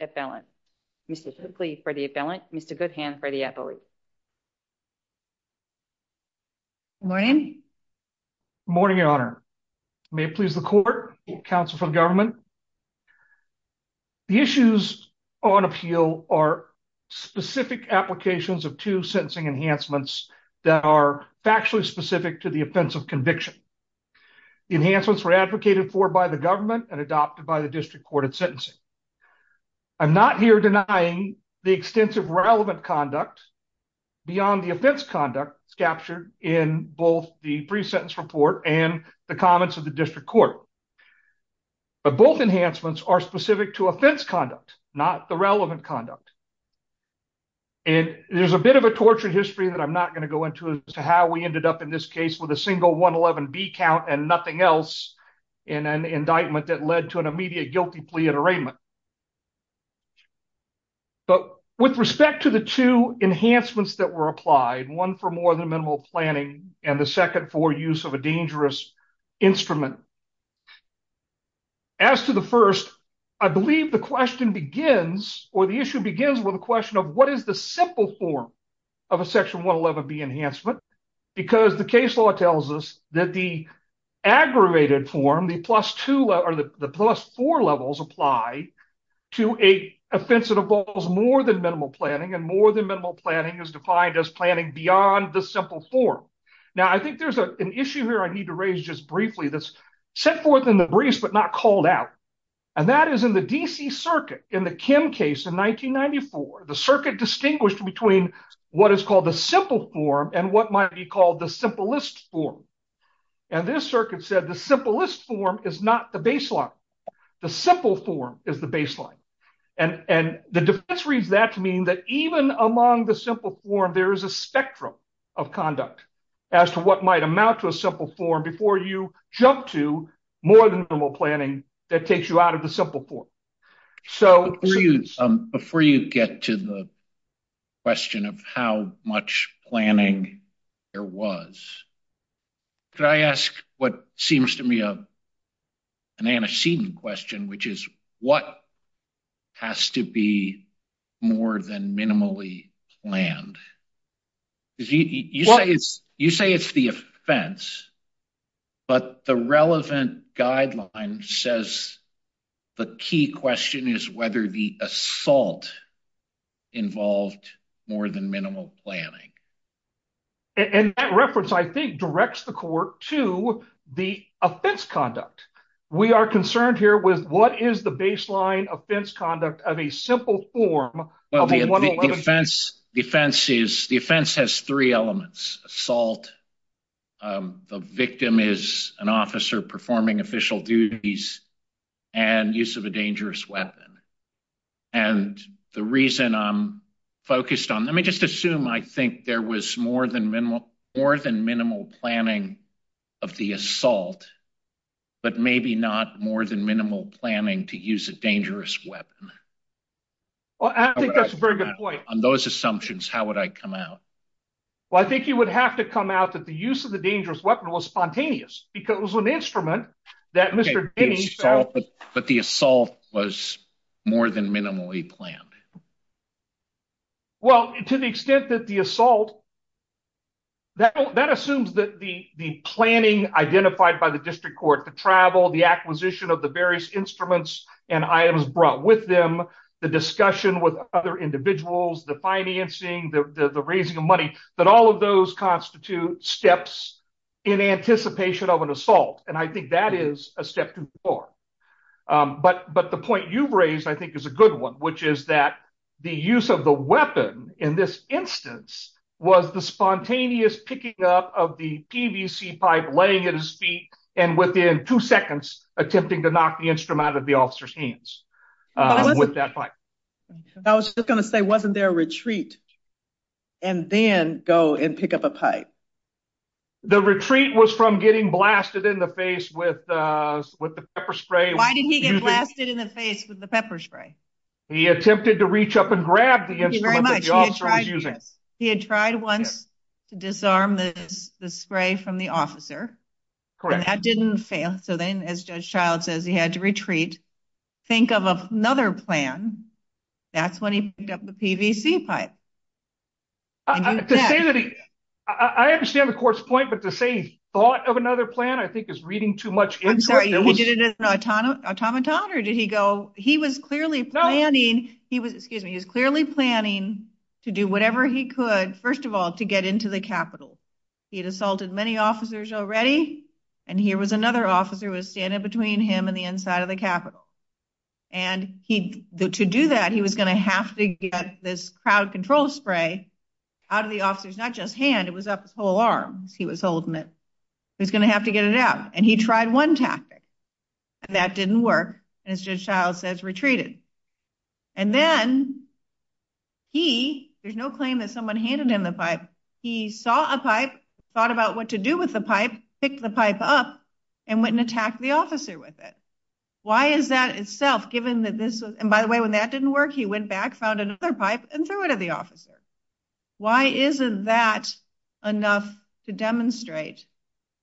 Appellant. Mr. Cookley for the appellant, Mr. Goodhand for the appellate. Wayne. Good morning, Your Honor. May it please the court, counsel from government. The issues on appeal are specific applications of two sentencing enhancements that are factually specific to the offense of conviction. The enhancements were advocated for by the government and adopted by the district court at sentencing. I'm not here denying the extensive relevant conduct beyond the offense conduct captured in both the pre-sentence report and the comments of the district court. But both enhancements are specific to offense conduct, not the relevant conduct. And there's a bit of a tortured history that I'm not going to go into as to how we ended up in this case with a single 111B count and nothing else in an indictment that led to an immediate guilty plea at arraignment. But with respect to the two enhancements that were applied, one for more than minimal planning and the second for use of a dangerous instrument, as to the first, I believe the question begins or the issue begins with a question of what is the simple form of a section 111B enhancement because the case law tells us that the aggravated form, the plus two or the plus four levels apply to a offense that involves more than minimal planning and more than minimal planning is defined as planning beyond the simple form. Now, I think there's an issue here I need to raise just briefly that's set forth in the briefs, but not called out. And that is in the DC circuit in the Kim case in 1994, the circuit distinguished between what is called the simple form and what might be called the simplest form. And this circuit said the simplest form is not the baseline. The simple form is the baseline. And the defense reads that to mean that even among the simple form, there is a spectrum of conduct as to what might amount to a simple form before you jump to more than normal planning that takes you out of the simple form. So... Before you get to the question of how much planning there was, could I ask what seems to me an antecedent question, which is what has to be more than minimally planned? You say it's the offense, but the relevant guideline says the key question is whether the assault involved more than minimal planning. And that reference, I think, directs the court to the offense conduct. We are concerned here with what is the baseline offense conduct of a simple form... The offense has three elements, assault, the victim is an officer performing official duties, and use of a dangerous weapon. And the reason I'm focused on, let me just assume I think there was more than minimal planning of the assault, but maybe not more than minimal planning to use a dangerous weapon. Well, I think that's a very good point. On those assumptions, how would I come out? Well, I think you would have to come out that the use of the dangerous weapon was spontaneous, because it was an instrument that Mr. Denny... But the assault was more than minimally planned. Well, to the extent that the assault... That assumes that the planning identified by the district court, the travel, the acquisition of the various instruments and items brought with them, the discussion with other individuals, the financing, the raising of money, that all of those constitute steps in anticipation of an assault. And I think that is a step too far. But the point you've raised, I think is a good one, which is that the use of the weapon in this instance was the spontaneous picking up of the PVC pipe laying at his feet and within two seconds attempting to knock the instrument out of the officer's hands with that pipe. I was just going to say, wasn't there a retreat and then go and pick up a pipe? The retreat was from getting blasted in the face with the pepper spray. Why did he get blasted in the face with the pepper spray? He attempted to reach up and grab the instrument that the officer was using. He had tried once to disarm the spray from the officer, and that didn't fail. So then, as Judge Child says, he had to retreat, think of another plan. That's when he picked up the PVC pipe. I understand the court's point, but to say he thought of another plan, I think is reading too much into it. I'm sorry, he did it automaton or did he go, he was clearly planning to do whatever he could, first of all, to get into the Capitol. He had assaulted many officers already, and here was another officer who was standing between him and the inside of the Capitol. And to do that, he was going to have to get this crowd control spray out of the officer's, not just hand, it was up his whole arm as he was holding it. He was going to have to get it out, and he tried one tactic, and that didn't work, and as Judge Child says, retreated. And then he, there's no claim that someone handed him the pipe, he saw a pipe, thought about what to do with the pipe, picked the pipe up, and went and attacked the officer with it. Why is that itself, given that this, and by the way, when that didn't work, he went back, found another pipe, and threw it at the officer. Why isn't that enough to demonstrate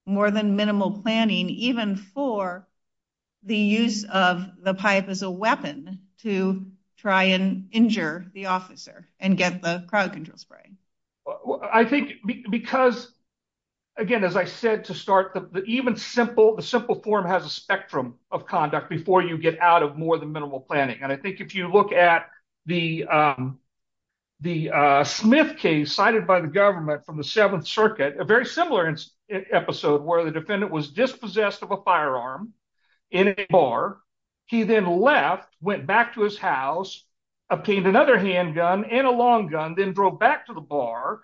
more than minimal planning, even for the use of the pipe as a weapon to try and injure the officer and get the crowd control spraying? I think because, again, as I said to start, the even simple, the simple form has a spectrum of conduct before you get out of more than minimal planning. And I think if you look at the Smith case cited by the government from the Seventh Circuit, a very similar episode, where the defendant was dispossessed of a firearm in a bar, he then left, went back to his house, obtained another handgun and a long gun, then drove back to the bar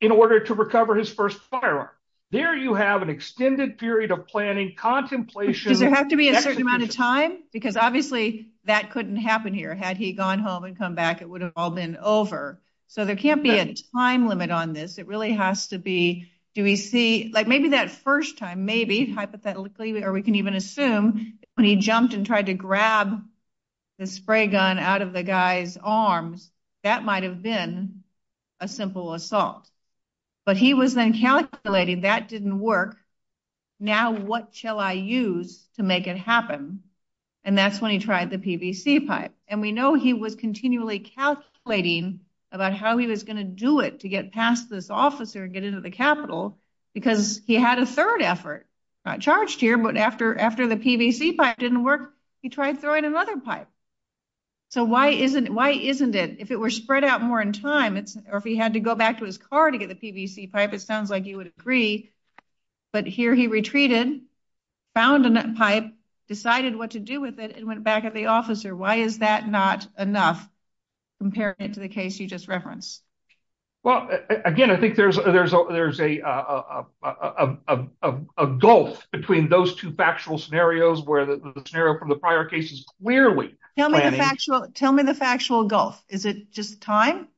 in order to recover his first firearm. There you have an extended period of planning, contemplation. Does there have to be a certain amount of time? Because obviously that couldn't happen here. Had he gone home and come back, it would have all been over. So there can't be a time limit on this. It really has to be, do we see, like maybe that first time, maybe, hypothetically, or we can even assume when he jumped and tried to grab the spray gun out of the guy's arms, that might have been a simple assault. But he was then calculating that didn't work. Now, what shall I use to make it happen? And that's when he tried the PVC pipe. And we know he was continually calculating about how he was going to do it to get past this officer and get into the Capitol, because he had a third effort. Not charged here, but after the PVC pipe didn't work, he tried throwing another pipe. So why isn't it, if it were spread out more in time, or if he had to go back to his car to get the PVC pipe, it sounds like you would agree. But here he retreated, found a pipe, decided what to do with it, and went back at the officer. Why is that not enough compared to the case you just referenced? Well, again, I think there's a a gulf between those two factual scenarios where the scenario from the prior case is clearly planning. Tell me the factual gulf. Is it just time?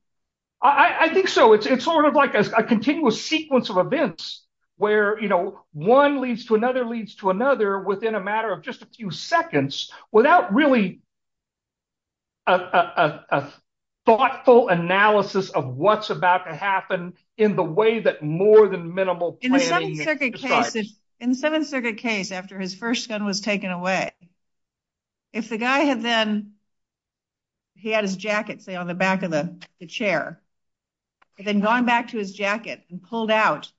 I think so. It's sort of like a continuous sequence of events where, you know, one leads to another, leads to another within a matter of just a few seconds without really a thoughtful analysis of what's about to happen in the way that more than minimal planning decides. In the Seventh Circuit case, after his first gun was taken away, if the guy had then, he had his jacket say on the back of the chair, and then going back to his jacket and pulled out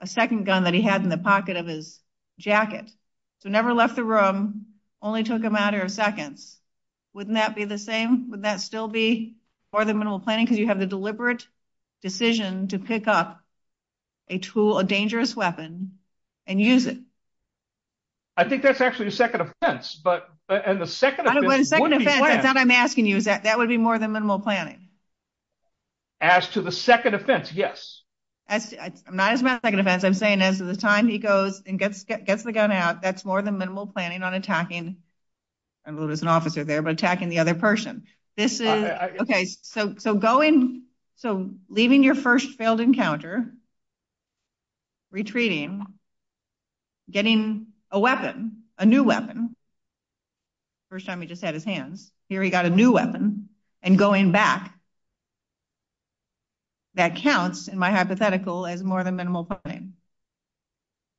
a second gun that he had in the pocket of his jacket, so never left the room, only took a matter of seconds, wouldn't that be the same? Wouldn't that still be more than a tool, a dangerous weapon, and use it? I think that's actually a second offense, but, and the second offense, that I'm asking you, is that that would be more than minimal planning? As to the second offense, yes. I'm not asking about the second offense. I'm saying as the time he goes and gets the gun out, that's more than minimal planning on attacking, I don't know if there's an officer there, but attacking the other person. This is, okay, so going, so leaving your first failed encounter, retreating, getting a weapon, a new weapon, first time he just had his hands, here he got a new weapon, and going back, that counts, in my hypothetical, as more than minimal planning.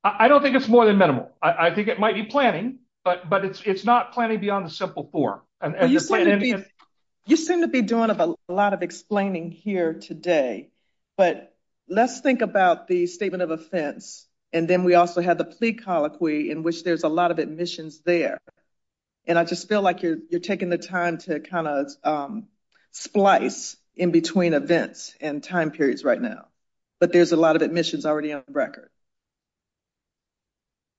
I don't think it's more than minimal. I think it might be planning, but it's not planning beyond the simple form. You seem to be doing a lot of explaining here today, but let's think about the statement of offense, and then we also have the plea colloquy in which there's a lot of admissions there, and I just feel like you're taking the time to kind of splice in between events and time periods right now, but there's a lot of admissions already on the record.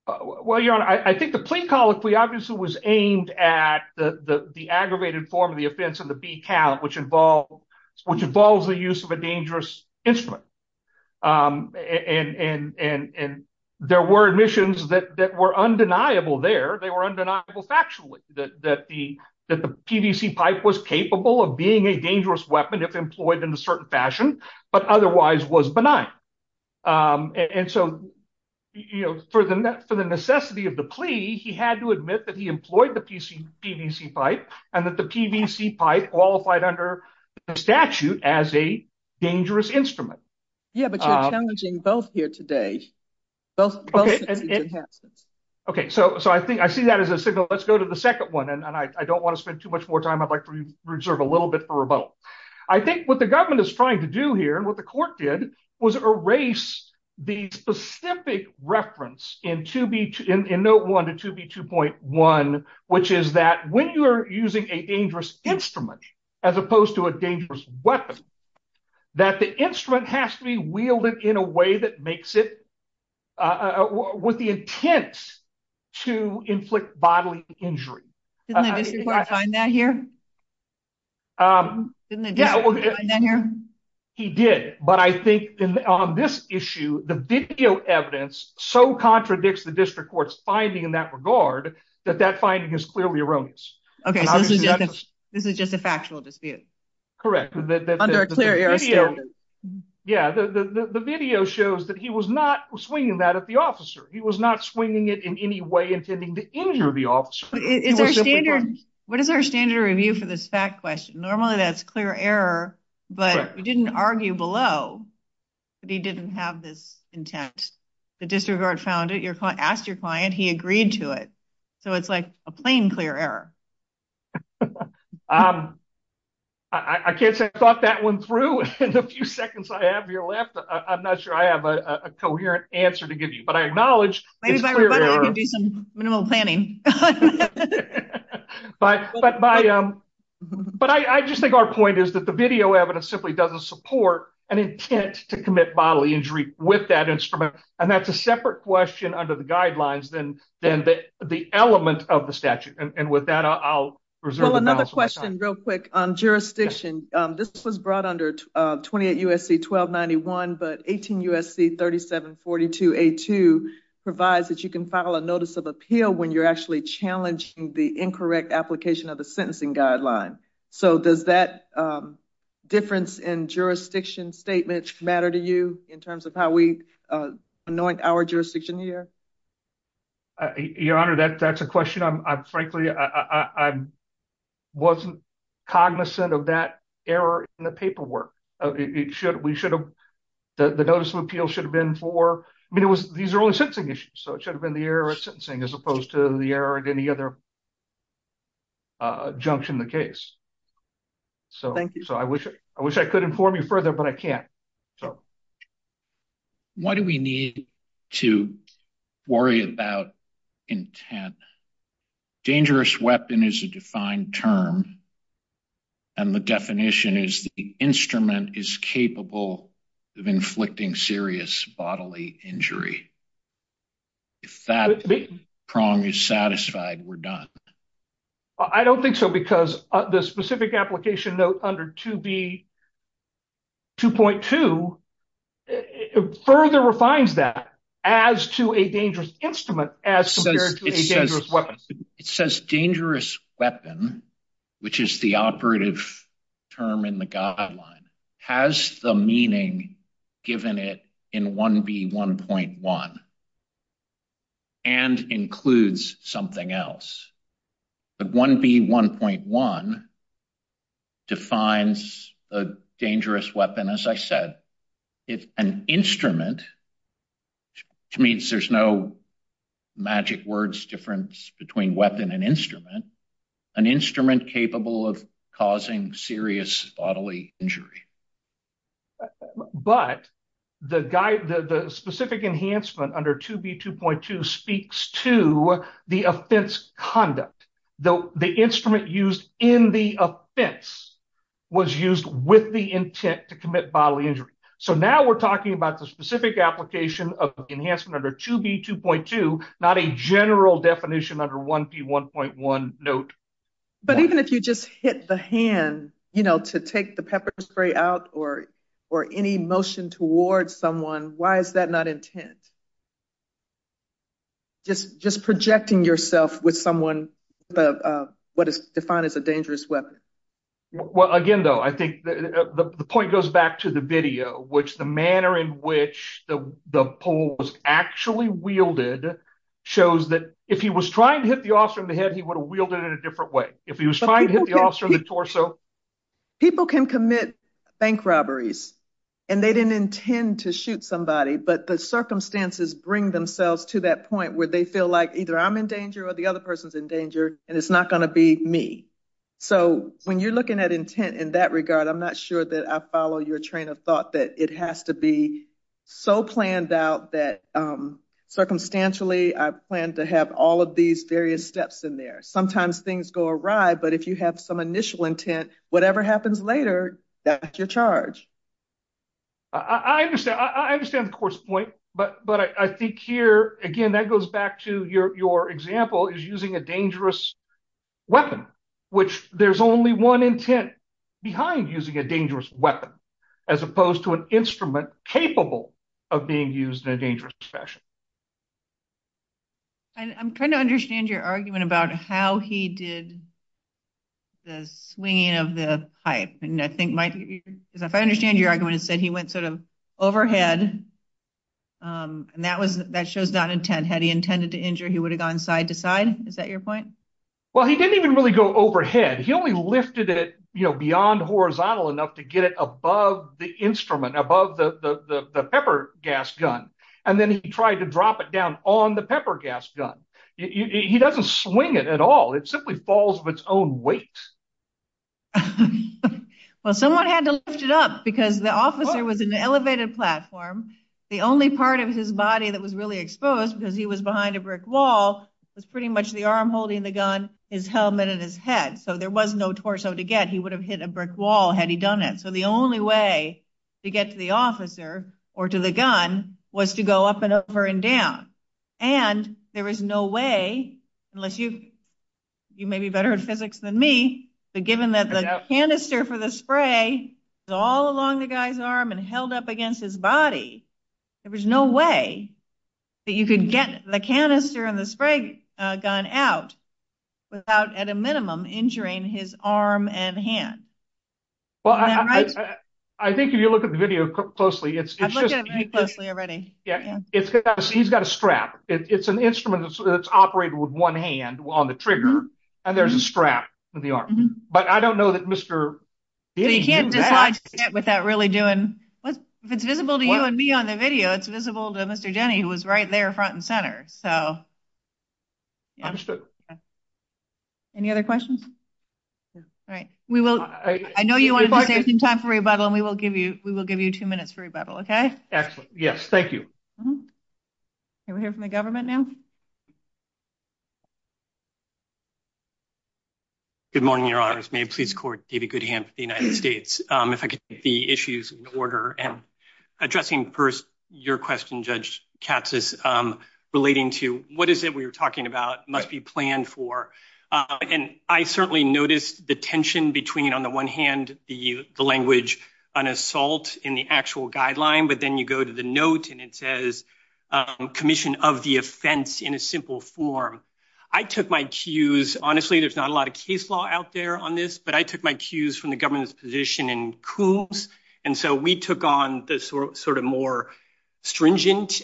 Well, Your Honor, I think the plea colloquy obviously was aimed at the aggravated form of offense in the B count, which involves the use of a dangerous instrument, and there were admissions that were undeniable there. They were undeniable factually, that the PVC pipe was capable of being a dangerous weapon if employed in a certain fashion, but otherwise was benign, and so for the necessity of the plea, he had to admit that he qualified under the statute as a dangerous instrument. Yeah, but you're challenging both here today. Okay, so I think I see that as a signal. Let's go to the second one, and I don't want to spend too much more time. I'd like to reserve a little bit for rebuttal. I think what the government is trying to do here, and what the court did, was erase the specific reference in Note 1 to 2B2.1, which is that when you are using a dangerous instrument, as opposed to a dangerous weapon, that the instrument has to be wielded in a way that makes it with the intent to inflict bodily injury. Didn't the district find that here? Didn't the district find that here? He did, but I think on this issue, the video evidence so contradicts the district court's finding in that regard, that that finding is clearly erroneous. Okay, so this is just a factual dispute? Correct. Under a clear era statute? Yeah, the video shows that he was not swinging that at the officer. He was not swinging it in any way to injure the officer. What is our standard review for this fact question? Normally that's clear error, but we didn't argue below, but he didn't have this intent. The district court found it. You asked your client. He agreed to it, so it's like a plain clear error. I can't say I thought that one through. In the few seconds I have here left, I'm not sure I have a coherent answer to give you, but I acknowledge it's clear error. I can do some minimal planning. But I just think our point is that the video evidence simply doesn't support an intent to commit bodily injury with that instrument, and that's a separate question under the guidelines than the element of the statute, and with that, I'll reserve the balance. Well, another question real quick on jurisdiction. This was brought under 28 USC 1291, but 18 USC 3742A2 provides that you can file a notice of appeal when you're actually challenging the incorrect application of the sentencing guideline. So does that difference in jurisdiction statement matter to you in terms of how we anoint our jurisdiction here? Your Honor, that's a question I frankly wasn't cognizant of that error in the paperwork. We should have, the notice of appeal should have been for, I mean, these are only sentencing issues, so it should have been the error at sentencing as opposed to the error at any other junction in the case. Thank you. So I wish I could inform you further, but I can't. Why do we need to worry about intent? Dangerous weapon is a defined term, and the definition is the instrument is capable of inflicting serious bodily injury. If that prong is satisfied, we're done. I don't think so, because the specific application note under 2B 2.2 further refines that as to a dangerous instrument as compared to a dangerous weapon. It says dangerous weapon, which is the operative term in the guideline, has the meaning given it in 1B1.1 and includes something else. But 1B1.1 defines a dangerous weapon, as I said, if an instrument, which means there's no magic words difference between weapon and instrument, an instrument capable of causing serious bodily injury. But the specific enhancement under 2B2.2 speaks to the offense conduct. The instrument used in the offense was used with the intent to commit bodily injury. So now we're talking about the specific application of enhancement under 2B2.2, not a general definition under 1B1.1 note. But even if you just hit the hand, you know, to take the pepper spray out or any motion towards someone, why is that not intent? Just projecting yourself with someone, what is defined as a dangerous weapon. Well, again, though, I think the point goes back to the video, which the manner in which the pole was actually wielded shows that if he was trying to hit the officer in the head, he would have wielded it in a different way. If he was trying to hit the officer in the torso. People can commit bank robberies and they didn't intend to shoot somebody, but the circumstances bring themselves to that point where they feel like either I'm in danger or the other person's in danger and it's not going to be me. So when you're looking at intent in that regard, I'm not sure that I follow your train of thought that it has to be so planned out that circumstantially I plan to have all of these various steps in there. Sometimes things go awry, but if you have some initial intent, whatever happens later, that's your charge. I understand the course point, but I think here, again, that goes back to your example is using a dangerous weapon, which there's only one intent behind using a dangerous weapon as opposed to an instrument capable of being used in a dangerous fashion. And I'm trying to understand your argument about how he did the swinging of the pipe. If I understand your argument, it said he went sort of overhead and that shows not intent. Had he intended to injure, he would have gone side to side. Is that your point? Well, he didn't even really go overhead. He only lifted it beyond horizontal enough to get it above the instrument, above the pepper gas gun. And then he tried to drop it down on the pepper gas gun. He doesn't swing it at all. It simply falls of its own weight. Well, someone had to lift it up because the officer was in the elevated platform. The only part of his body that was really exposed because he was behind a brick wall was pretty much the arm holding the gun, his helmet and his head. So there was no torso to get. He would have hit a brick wall had he done it. So the only way to get to the officer or to the gun was to go up and over and down. And there was no way, unless you, you may be better at spray, all along the guy's arm and held up against his body. There was no way that you could get the canister and the spray gun out without at a minimum injuring his arm and hand. Well, I think if you look at the video closely, it's just, he's got a strap. It's an instrument that's operated with one hand on the trigger and there's a strap with the arm. But I don't know that Mr. Denny did that. You can't dislodge that without really doing, if it's visible to you and me on the video, it's visible to Mr. Denny, who was right there front and center. So. Understood. Any other questions? All right. We will, I know you wanted to save some time for rebuttal and we will give you, we will give you two minutes for rebuttal. Okay. Excellent. Yes. Thank you. Can we hear from the government now? Good morning, your honors. May it please the court, David Goodham of the United States. If I could get the issues in order and addressing first your question, Judge Katsas, relating to what is it we were talking about must be planned for? And I certainly noticed the tension between on the one hand, the language, an assault in the actual guideline, but then you go to the note and it says commission of the offense in a simple form. I took my cues, honestly, there's not a lot of case law out there on this, but I took my cues from the government's position in Coombs. And so we took on the sort of more stringent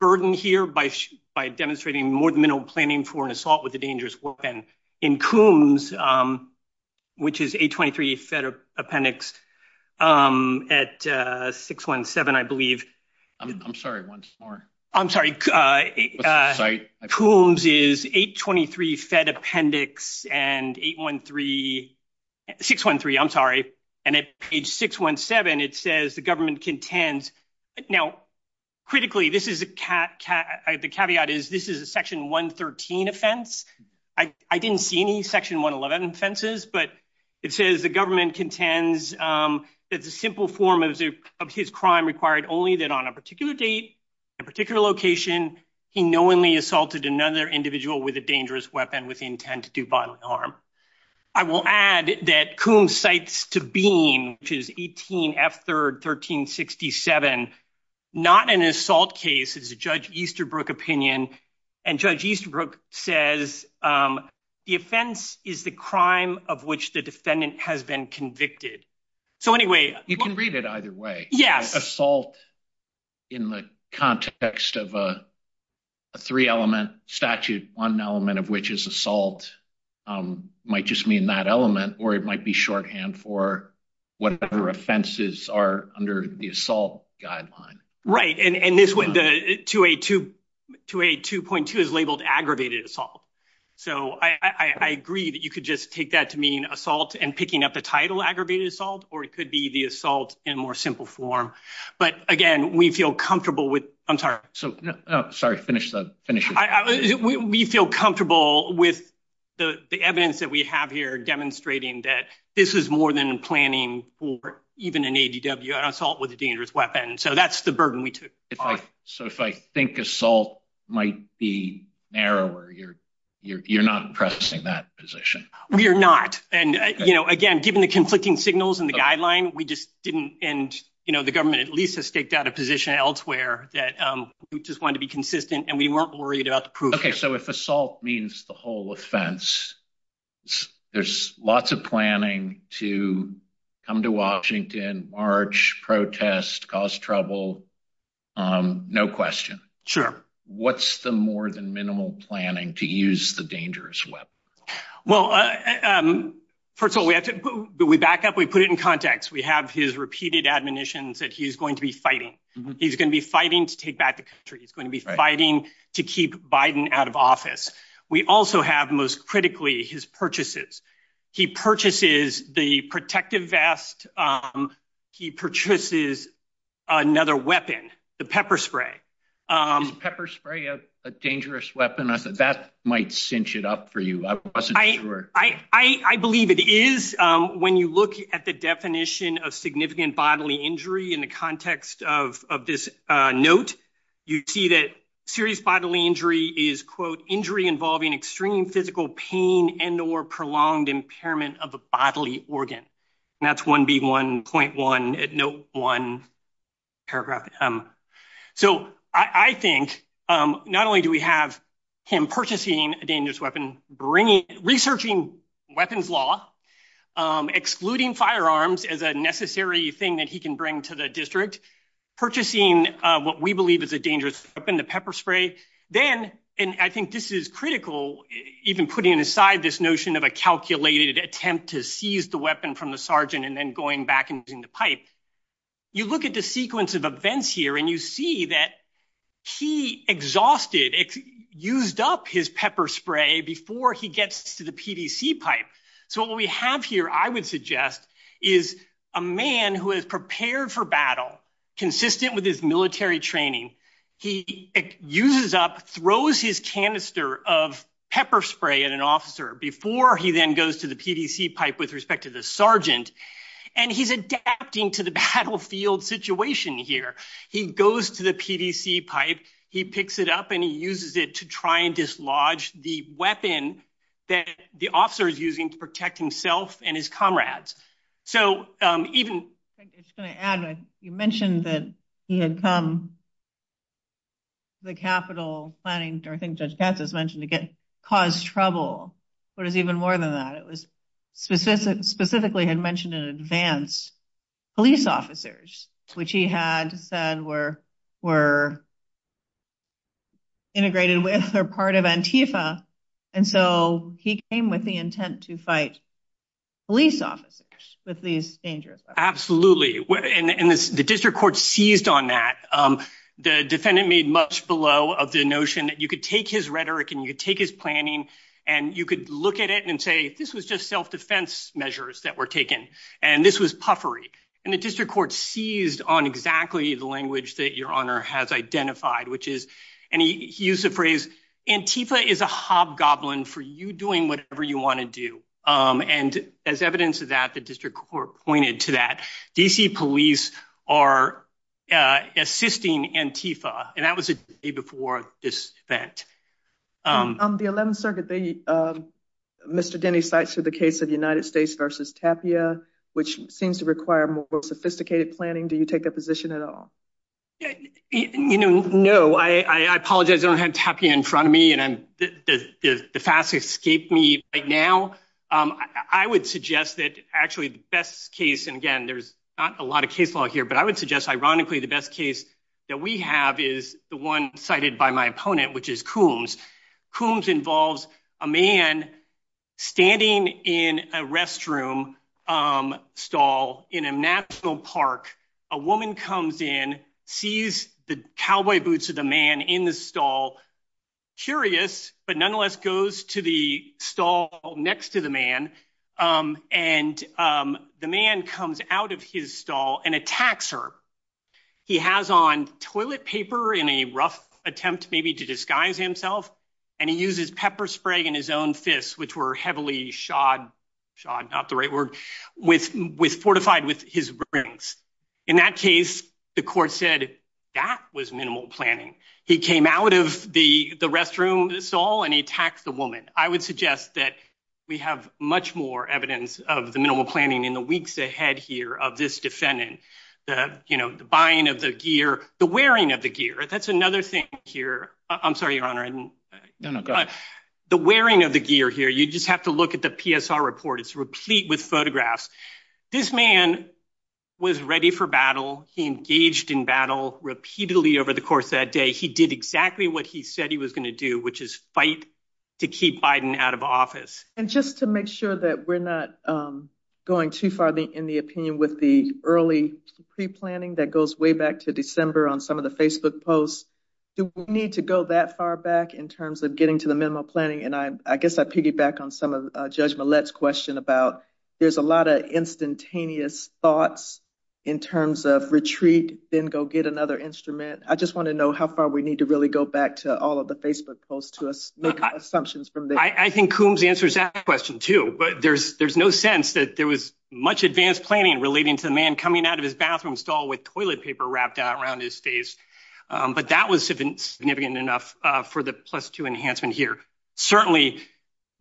burden here by demonstrating more than minimal planning for an I mean, I'm sorry, one more. I'm sorry. Coombs is 823 Fed appendix and 813, 613, I'm sorry. And at page 617, it says the government contends. Now, critically, this is the caveat is this is a section 113 offense. I didn't see any section 111 offenses, but it says the government contends that the simple form of his crime required only that on a particular date, a particular location, he knowingly assaulted another individual with a dangerous weapon with intent to do violent harm. I will add that Coombs cites to Bean, which is 18 F third 1367, not an assault case. It's a Judge Easterbrook opinion. And Judge Easterbrook says the offense is the crime of which the defendant has been convicted. So anyway, you can read it either way. Yes. Assault in the context of a three element statute, one element of which is assault might just mean that element or it might be shorthand for whatever offenses are under the assault guideline. Right. And this went to a to to a two point two is labeled aggravated assault. So I agree that you could just take that to mean and picking up the title aggravated assault or it could be the assault in more simple form. But again, we feel comfortable with. I'm sorry. So sorry. Finish the finish. We feel comfortable with the evidence that we have here demonstrating that this is more than planning for even an A.D.W. assault with a dangerous weapon. So that's the burden we took. If I so if I think assault might be narrower, you're you're not pressing that position. We are not. And, you know, again, given the conflicting signals in the guideline, we just didn't. And, you know, the government at least has staked out a position elsewhere that we just want to be consistent and we weren't worried about the proof. OK, so if assault means the whole offense, there's lots of planning to come to Washington, march, protest, cause trouble. No question. Sure. What's the more than minimal planning to use the dangerous weapon? Well, first of all, we have to back up. We put it in context. We have his repeated admonitions that he is going to be fighting. He's going to be fighting to take back the country. He's going to be fighting to keep Biden out of office. We also have most critically his purchases. He purchases the protective vest. He purchases another weapon, the pepper spray, pepper spray, a dangerous weapon that might cinch it up for you. I wasn't sure. I believe it is. When you look at the definition of significant bodily injury in the context of this note, you see that serious bodily injury is, quote, injury involving extreme physical pain and or prolonged impairment of a bodily organ. That's one big one point one at no one paragraph. So I think not only do we have him purchasing a dangerous weapon, bringing, researching weapons law, excluding firearms as a necessary thing that he can bring to the district, purchasing what we believe is a dangerous weapon, the pepper spray. Then, and I think this is critical, even putting aside this notion of a calculated attempt to seize the weapon from the sergeant and going back and using the pipe, you look at the sequence of events here and you see that he exhausted, used up his pepper spray before he gets to the PDC pipe. So what we have here, I would suggest, is a man who is prepared for battle, consistent with his military training. He uses up, throws his canister of pepper spray at an officer before he then goes to the PDC pipe with respect to the sergeant, and he's adapting to the battlefield situation here. He goes to the PDC pipe, he picks it up, and he uses it to try and dislodge the weapon that the officer is using to protect himself and his comrades. So even- I'm just going to add, you mentioned that he had come to the Capitol planning, or I think Judge Katz has mentioned, to cause trouble. But it's even more than that. It was specifically, had mentioned in advance, police officers, which he had said were integrated with or part of Antifa. And so he came with the intent to fight police officers with these dangerous weapons. Absolutely. And the district court seized on that. The defendant made much below of the notion that you could take his rhetoric, and you could take his planning, and you could look at it and say, this was just self-defense measures that were taken, and this was puffery. And the district court seized on exactly the language that your honor has identified, which is, and he used the phrase, Antifa is a hobgoblin for you doing whatever you want to do. And as evidence of that, the district court pointed to that. D.C. police are assisting Antifa, and that was a day before this event. On the 11th circuit, Mr. Denny cites the case of the United States versus Tapia, which seems to require more sophisticated planning. Do you take that position at all? You know, no. I apologize. I don't have Tapia in front of me, and the facts escape me right now. I would suggest that actually the best case, and again, there's not a lot of case law here, but I would suggest ironically the best case that we have is the one cited by my opponent, which is Coombs. Coombs involves a man standing in a restroom stall in a national park. A woman comes in, sees the cowboy boots of the man in the stall, curious, but nonetheless goes to the stall next to the man, and the man comes out of his stall and attacks her. He has on toilet paper in a rough attempt maybe to disguise himself, and he uses pepper spray and his own fists, which were heavily shod—shod, not the right word—fortified with his rings. In that case, the court said that was minimal planning. He came out of the restroom stall, and he attacked the woman. We have much more evidence of the minimal planning in the weeks ahead here of this defendant, the, you know, the buying of the gear, the wearing of the gear. That's another thing here. I'm sorry, Your Honor. No, no, go ahead. The wearing of the gear here, you just have to look at the PSR report. It's replete with photographs. This man was ready for battle. He engaged in battle repeatedly over the course of that day. He did exactly what he said he was going to do, which is fight to keep Biden out of office. And just to make sure that we're not going too far in the opinion with the early pre-planning that goes way back to December on some of the Facebook posts, do we need to go that far back in terms of getting to the minimal planning? And I guess I piggyback on some of Judge Millett's question about there's a lot of instantaneous thoughts in terms of retreat, then go get another instrument. I just want to know how far we I think Coombs answers that question, too. But there's there's no sense that there was much advanced planning relating to the man coming out of his bathroom stall with toilet paper wrapped around his face. But that was significant enough for the plus two enhancement here. Certainly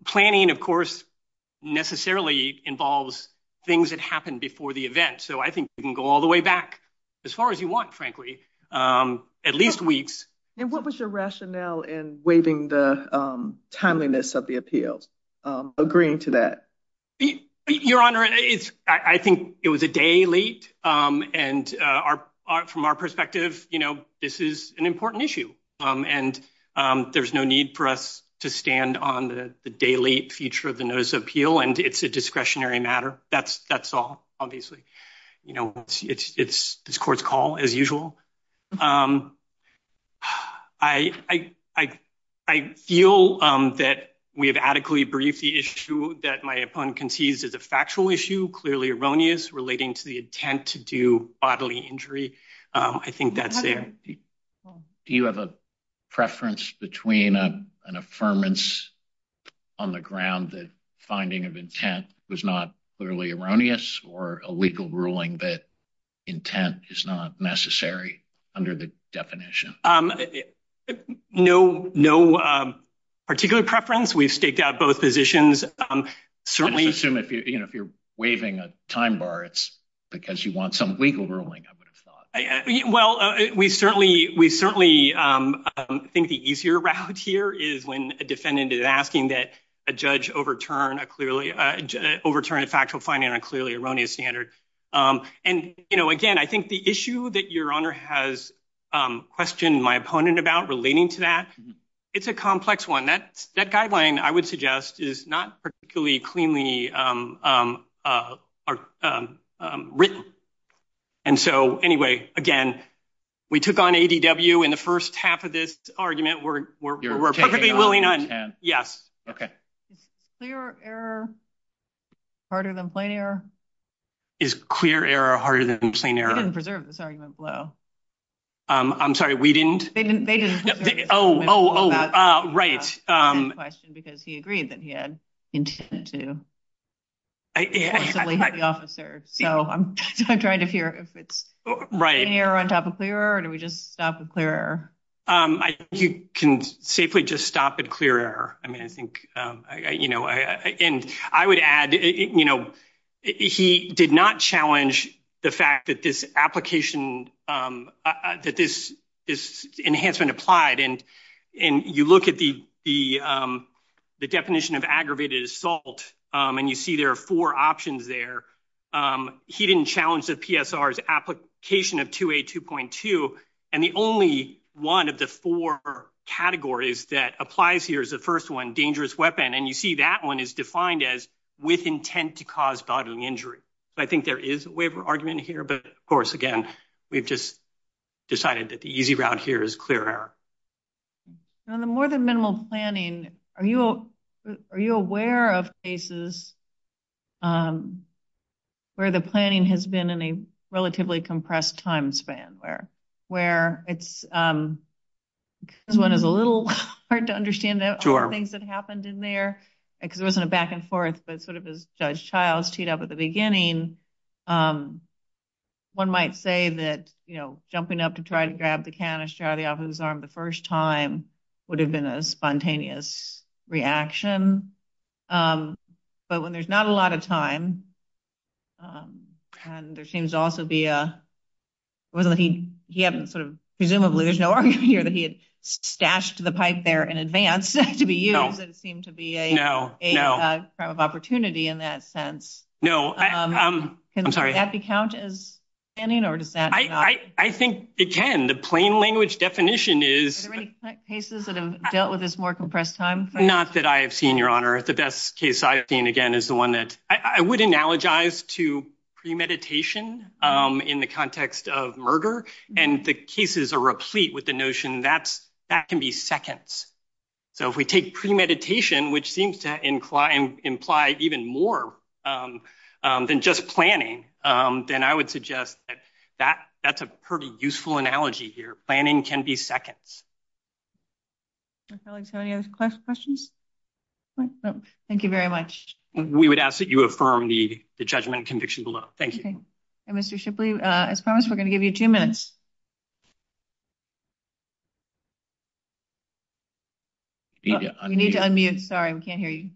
planning, of course, necessarily involves things that happened before the event. So I think we can go all the way back as far as you want, frankly, at least weeks. And what was your rationale in waiving the timeliness of the appeals, agreeing to that? Your Honor, it's I think it was a day late. And from our perspective, you know, this is an important issue. And there's no need for us to stand on the daily feature of the notice of appeal. And it's a discretionary matter. That's that's all. Obviously, you know, it's this court's call, as usual. I feel that we have adequately briefed the issue that my opponent concedes is a factual issue, clearly erroneous relating to the intent to do bodily injury. I think that's there. Do you have a preference between an ruling that intent is not necessary under the definition? No, no particular preference. We've staked out both positions. Certainly assume if you're waiving a time bar, it's because you want some legal ruling. Well, we certainly we certainly think the easier route here is when a defendant is asking that judge overturn a clearly overturned factual finding on a clearly erroneous standard. And, you know, again, I think the issue that your honor has questioned my opponent about relating to that, it's a complex one that that guideline I would suggest is not particularly cleanly written. And so anyway, again, we took on ADW in the first half of this argument, we're perfectly willing on. Yes. Okay. Clear error. Harder than plain error. Is clear error harder than plain error? Preserve this argument. I'm sorry, we didn't. Oh, right. Because he agreed that he had intended to. So I'm trying to figure out if it's right here on top of clear, or do we just stop the clear? Can safely just stop at clear error? I mean, I think, you know, and I would add, you know, he did not challenge the fact that this application, that this is enhancement applied. And you look at the definition of aggravated assault, and you see there are four options there. He didn't challenge the PSR's application of 282.2. And the only one of the four categories that applies here is the first one, dangerous weapon. And you see that one is defined as with intent to cause bodily injury. I think there is a waiver argument here. But of course, again, we've just decided that the easy route here is clear error. On the more than minimal planning, are you aware of cases where the planning has been in a relatively compressed time span, where it's, this one is a little hard to understand the things that happened in there, because there wasn't a back and forth, but sort of as Judge Childs teed up at the beginning, one might say that, you know, jumping up to try to grab the canister out of the officer's arm the first time would have been a spontaneous reaction. But when there's not a lot of time, and there seems to also be a, it wasn't that he, he hadn't sort of, presumably, there's no argument here that he had stashed the pipe there in advance to be used, it seemed to be a crime of opportunity in that sense. No, I'm sorry. Does that count as planning, or does that not? I think it can. The plain language definition is... Are there any cases that have dealt with this more compressed time? Not that I have seen, Your Honor. The best case I've seen, again, is the one that, I would analogize to premeditation in the context of murder, and the cases are replete with the notion that that can be seconds. So if we take premeditation, which seems to imply even more than just planning, then I would suggest that that's a pretty useful analogy here. Planning can be seconds. My colleagues have any other questions? Thank you very much. We would ask that you affirm the judgment and conviction below. Thank you. Mr. Shipley, as promised, we're going to give you two minutes. We need to unmute. Sorry, we can't hear you.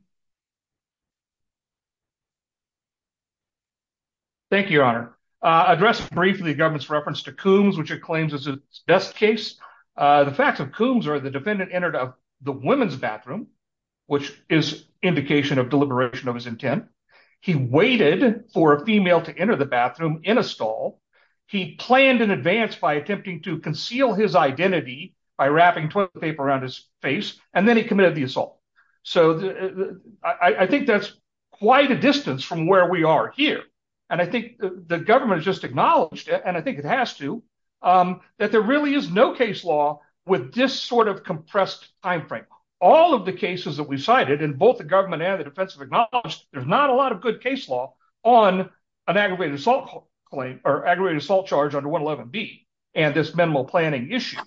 Thank you, Your Honor. Address briefly the government's reference to coombs, which it claims is its best case. The facts of coombs are the defendant entered the women's bathroom, which is indication of deliberation of his intent. He waited for a female to enter the bathroom in a stall. He planned in advance by attempting to conceal his identity by wrapping toilet paper around his face, and then he committed the assault. So I think that's quite a distance from where we are here, and I think the government has just acknowledged it, and I think it has to, that there really is no case law with this sort of compressed time frame. All of the cases that we cited, and both the government and the defense have acknowledged, there's not a lot of good case law on an aggravated assault charge under 111B and this minimal planning issue.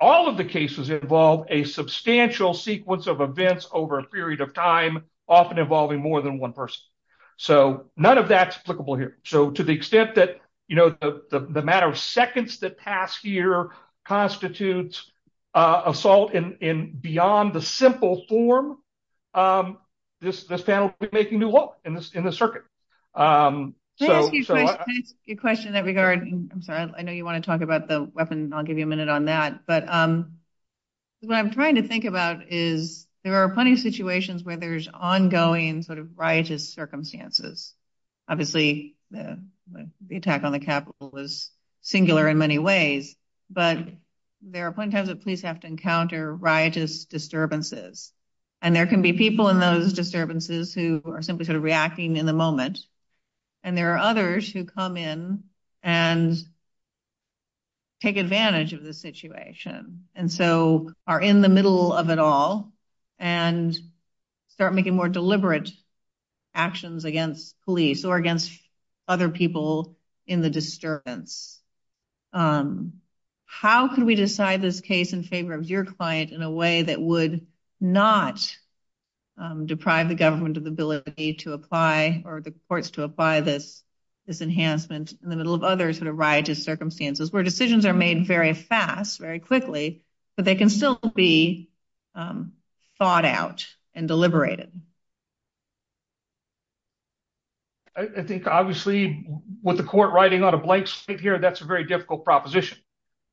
All of the cases involve a substantial sequence of events over a period of time, often involving more than one person. So none of that's applicable here. So to the extent that the matter of seconds that pass here constitutes assault in beyond the simple form, this panel will be making new hope in the circuit. Can I ask you a question that regarding, I'm sorry, I know you want to talk about the weapon, and I'll give you a minute on that, but what I'm trying to think about is there are plenty of situations where there's ongoing sort of riotous circumstances. Obviously, the attack on the Capitol was singular in many ways, but there are plenty of times that police have to encounter riotous disturbances, and there can be people in those disturbances who are simply sort of reacting in the moment, and there are others who come in and take advantage of the situation, and so are in the middle of it all, and start making more deliberate actions against police or against other people in the disturbance. How can we decide this case in favor of your client in a way that would not deprive the government of the ability to apply, or the courts to apply this enhancement in the middle of other sort of riotous circumstances, where decisions are made very fast, very quickly, but they can still be thought out and deliberated? I think, obviously, with the court writing on a blank slate here, that's a very difficult proposition.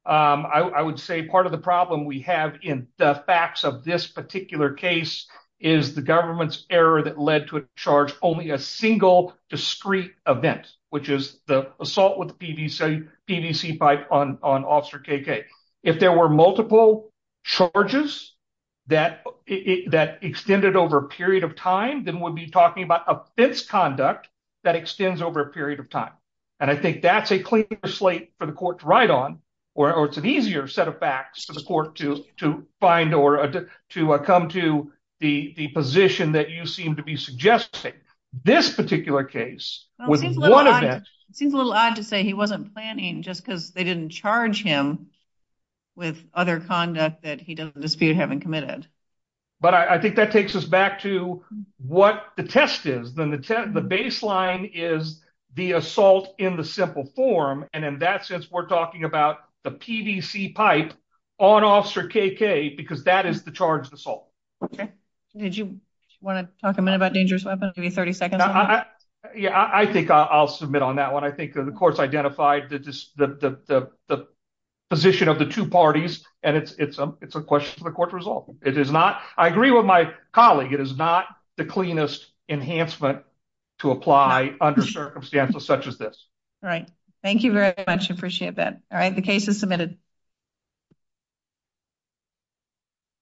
I would say part of the problem we have in the facts of this particular case is the government's error that led to a charge only a single discrete event, which is the assault with the PVC pipe on Officer KK. If there were multiple charges that extended over a period of time, then we'd be talking about offense conduct that extends over a period of time, and I think that's a clear slate for the court to write on, or it's an easier set of facts for the court to find, or to come to the position that you seem to be suggesting. This particular case, with one event... It seems a little odd to say he wasn't planning just because they didn't charge him with other conduct that he doesn't dispute having committed. But I think that takes us back to what the test is. Then the baseline is the assault in the simple form, and in that sense, we're talking about the PVC pipe on Officer KK, because that is the charged assault. Okay. Did you want to talk a minute about dangerous weapon? Give you 30 seconds. Yeah, I think I'll submit on that one. I think the court's identified the position of the two parties, and it's a question for the court to resolve. It is not... I agree with my colleague. It is not the cleanest enhancement to apply under circumstances such as this. Right. Thank you very much. I appreciate that. All right. The case is submitted.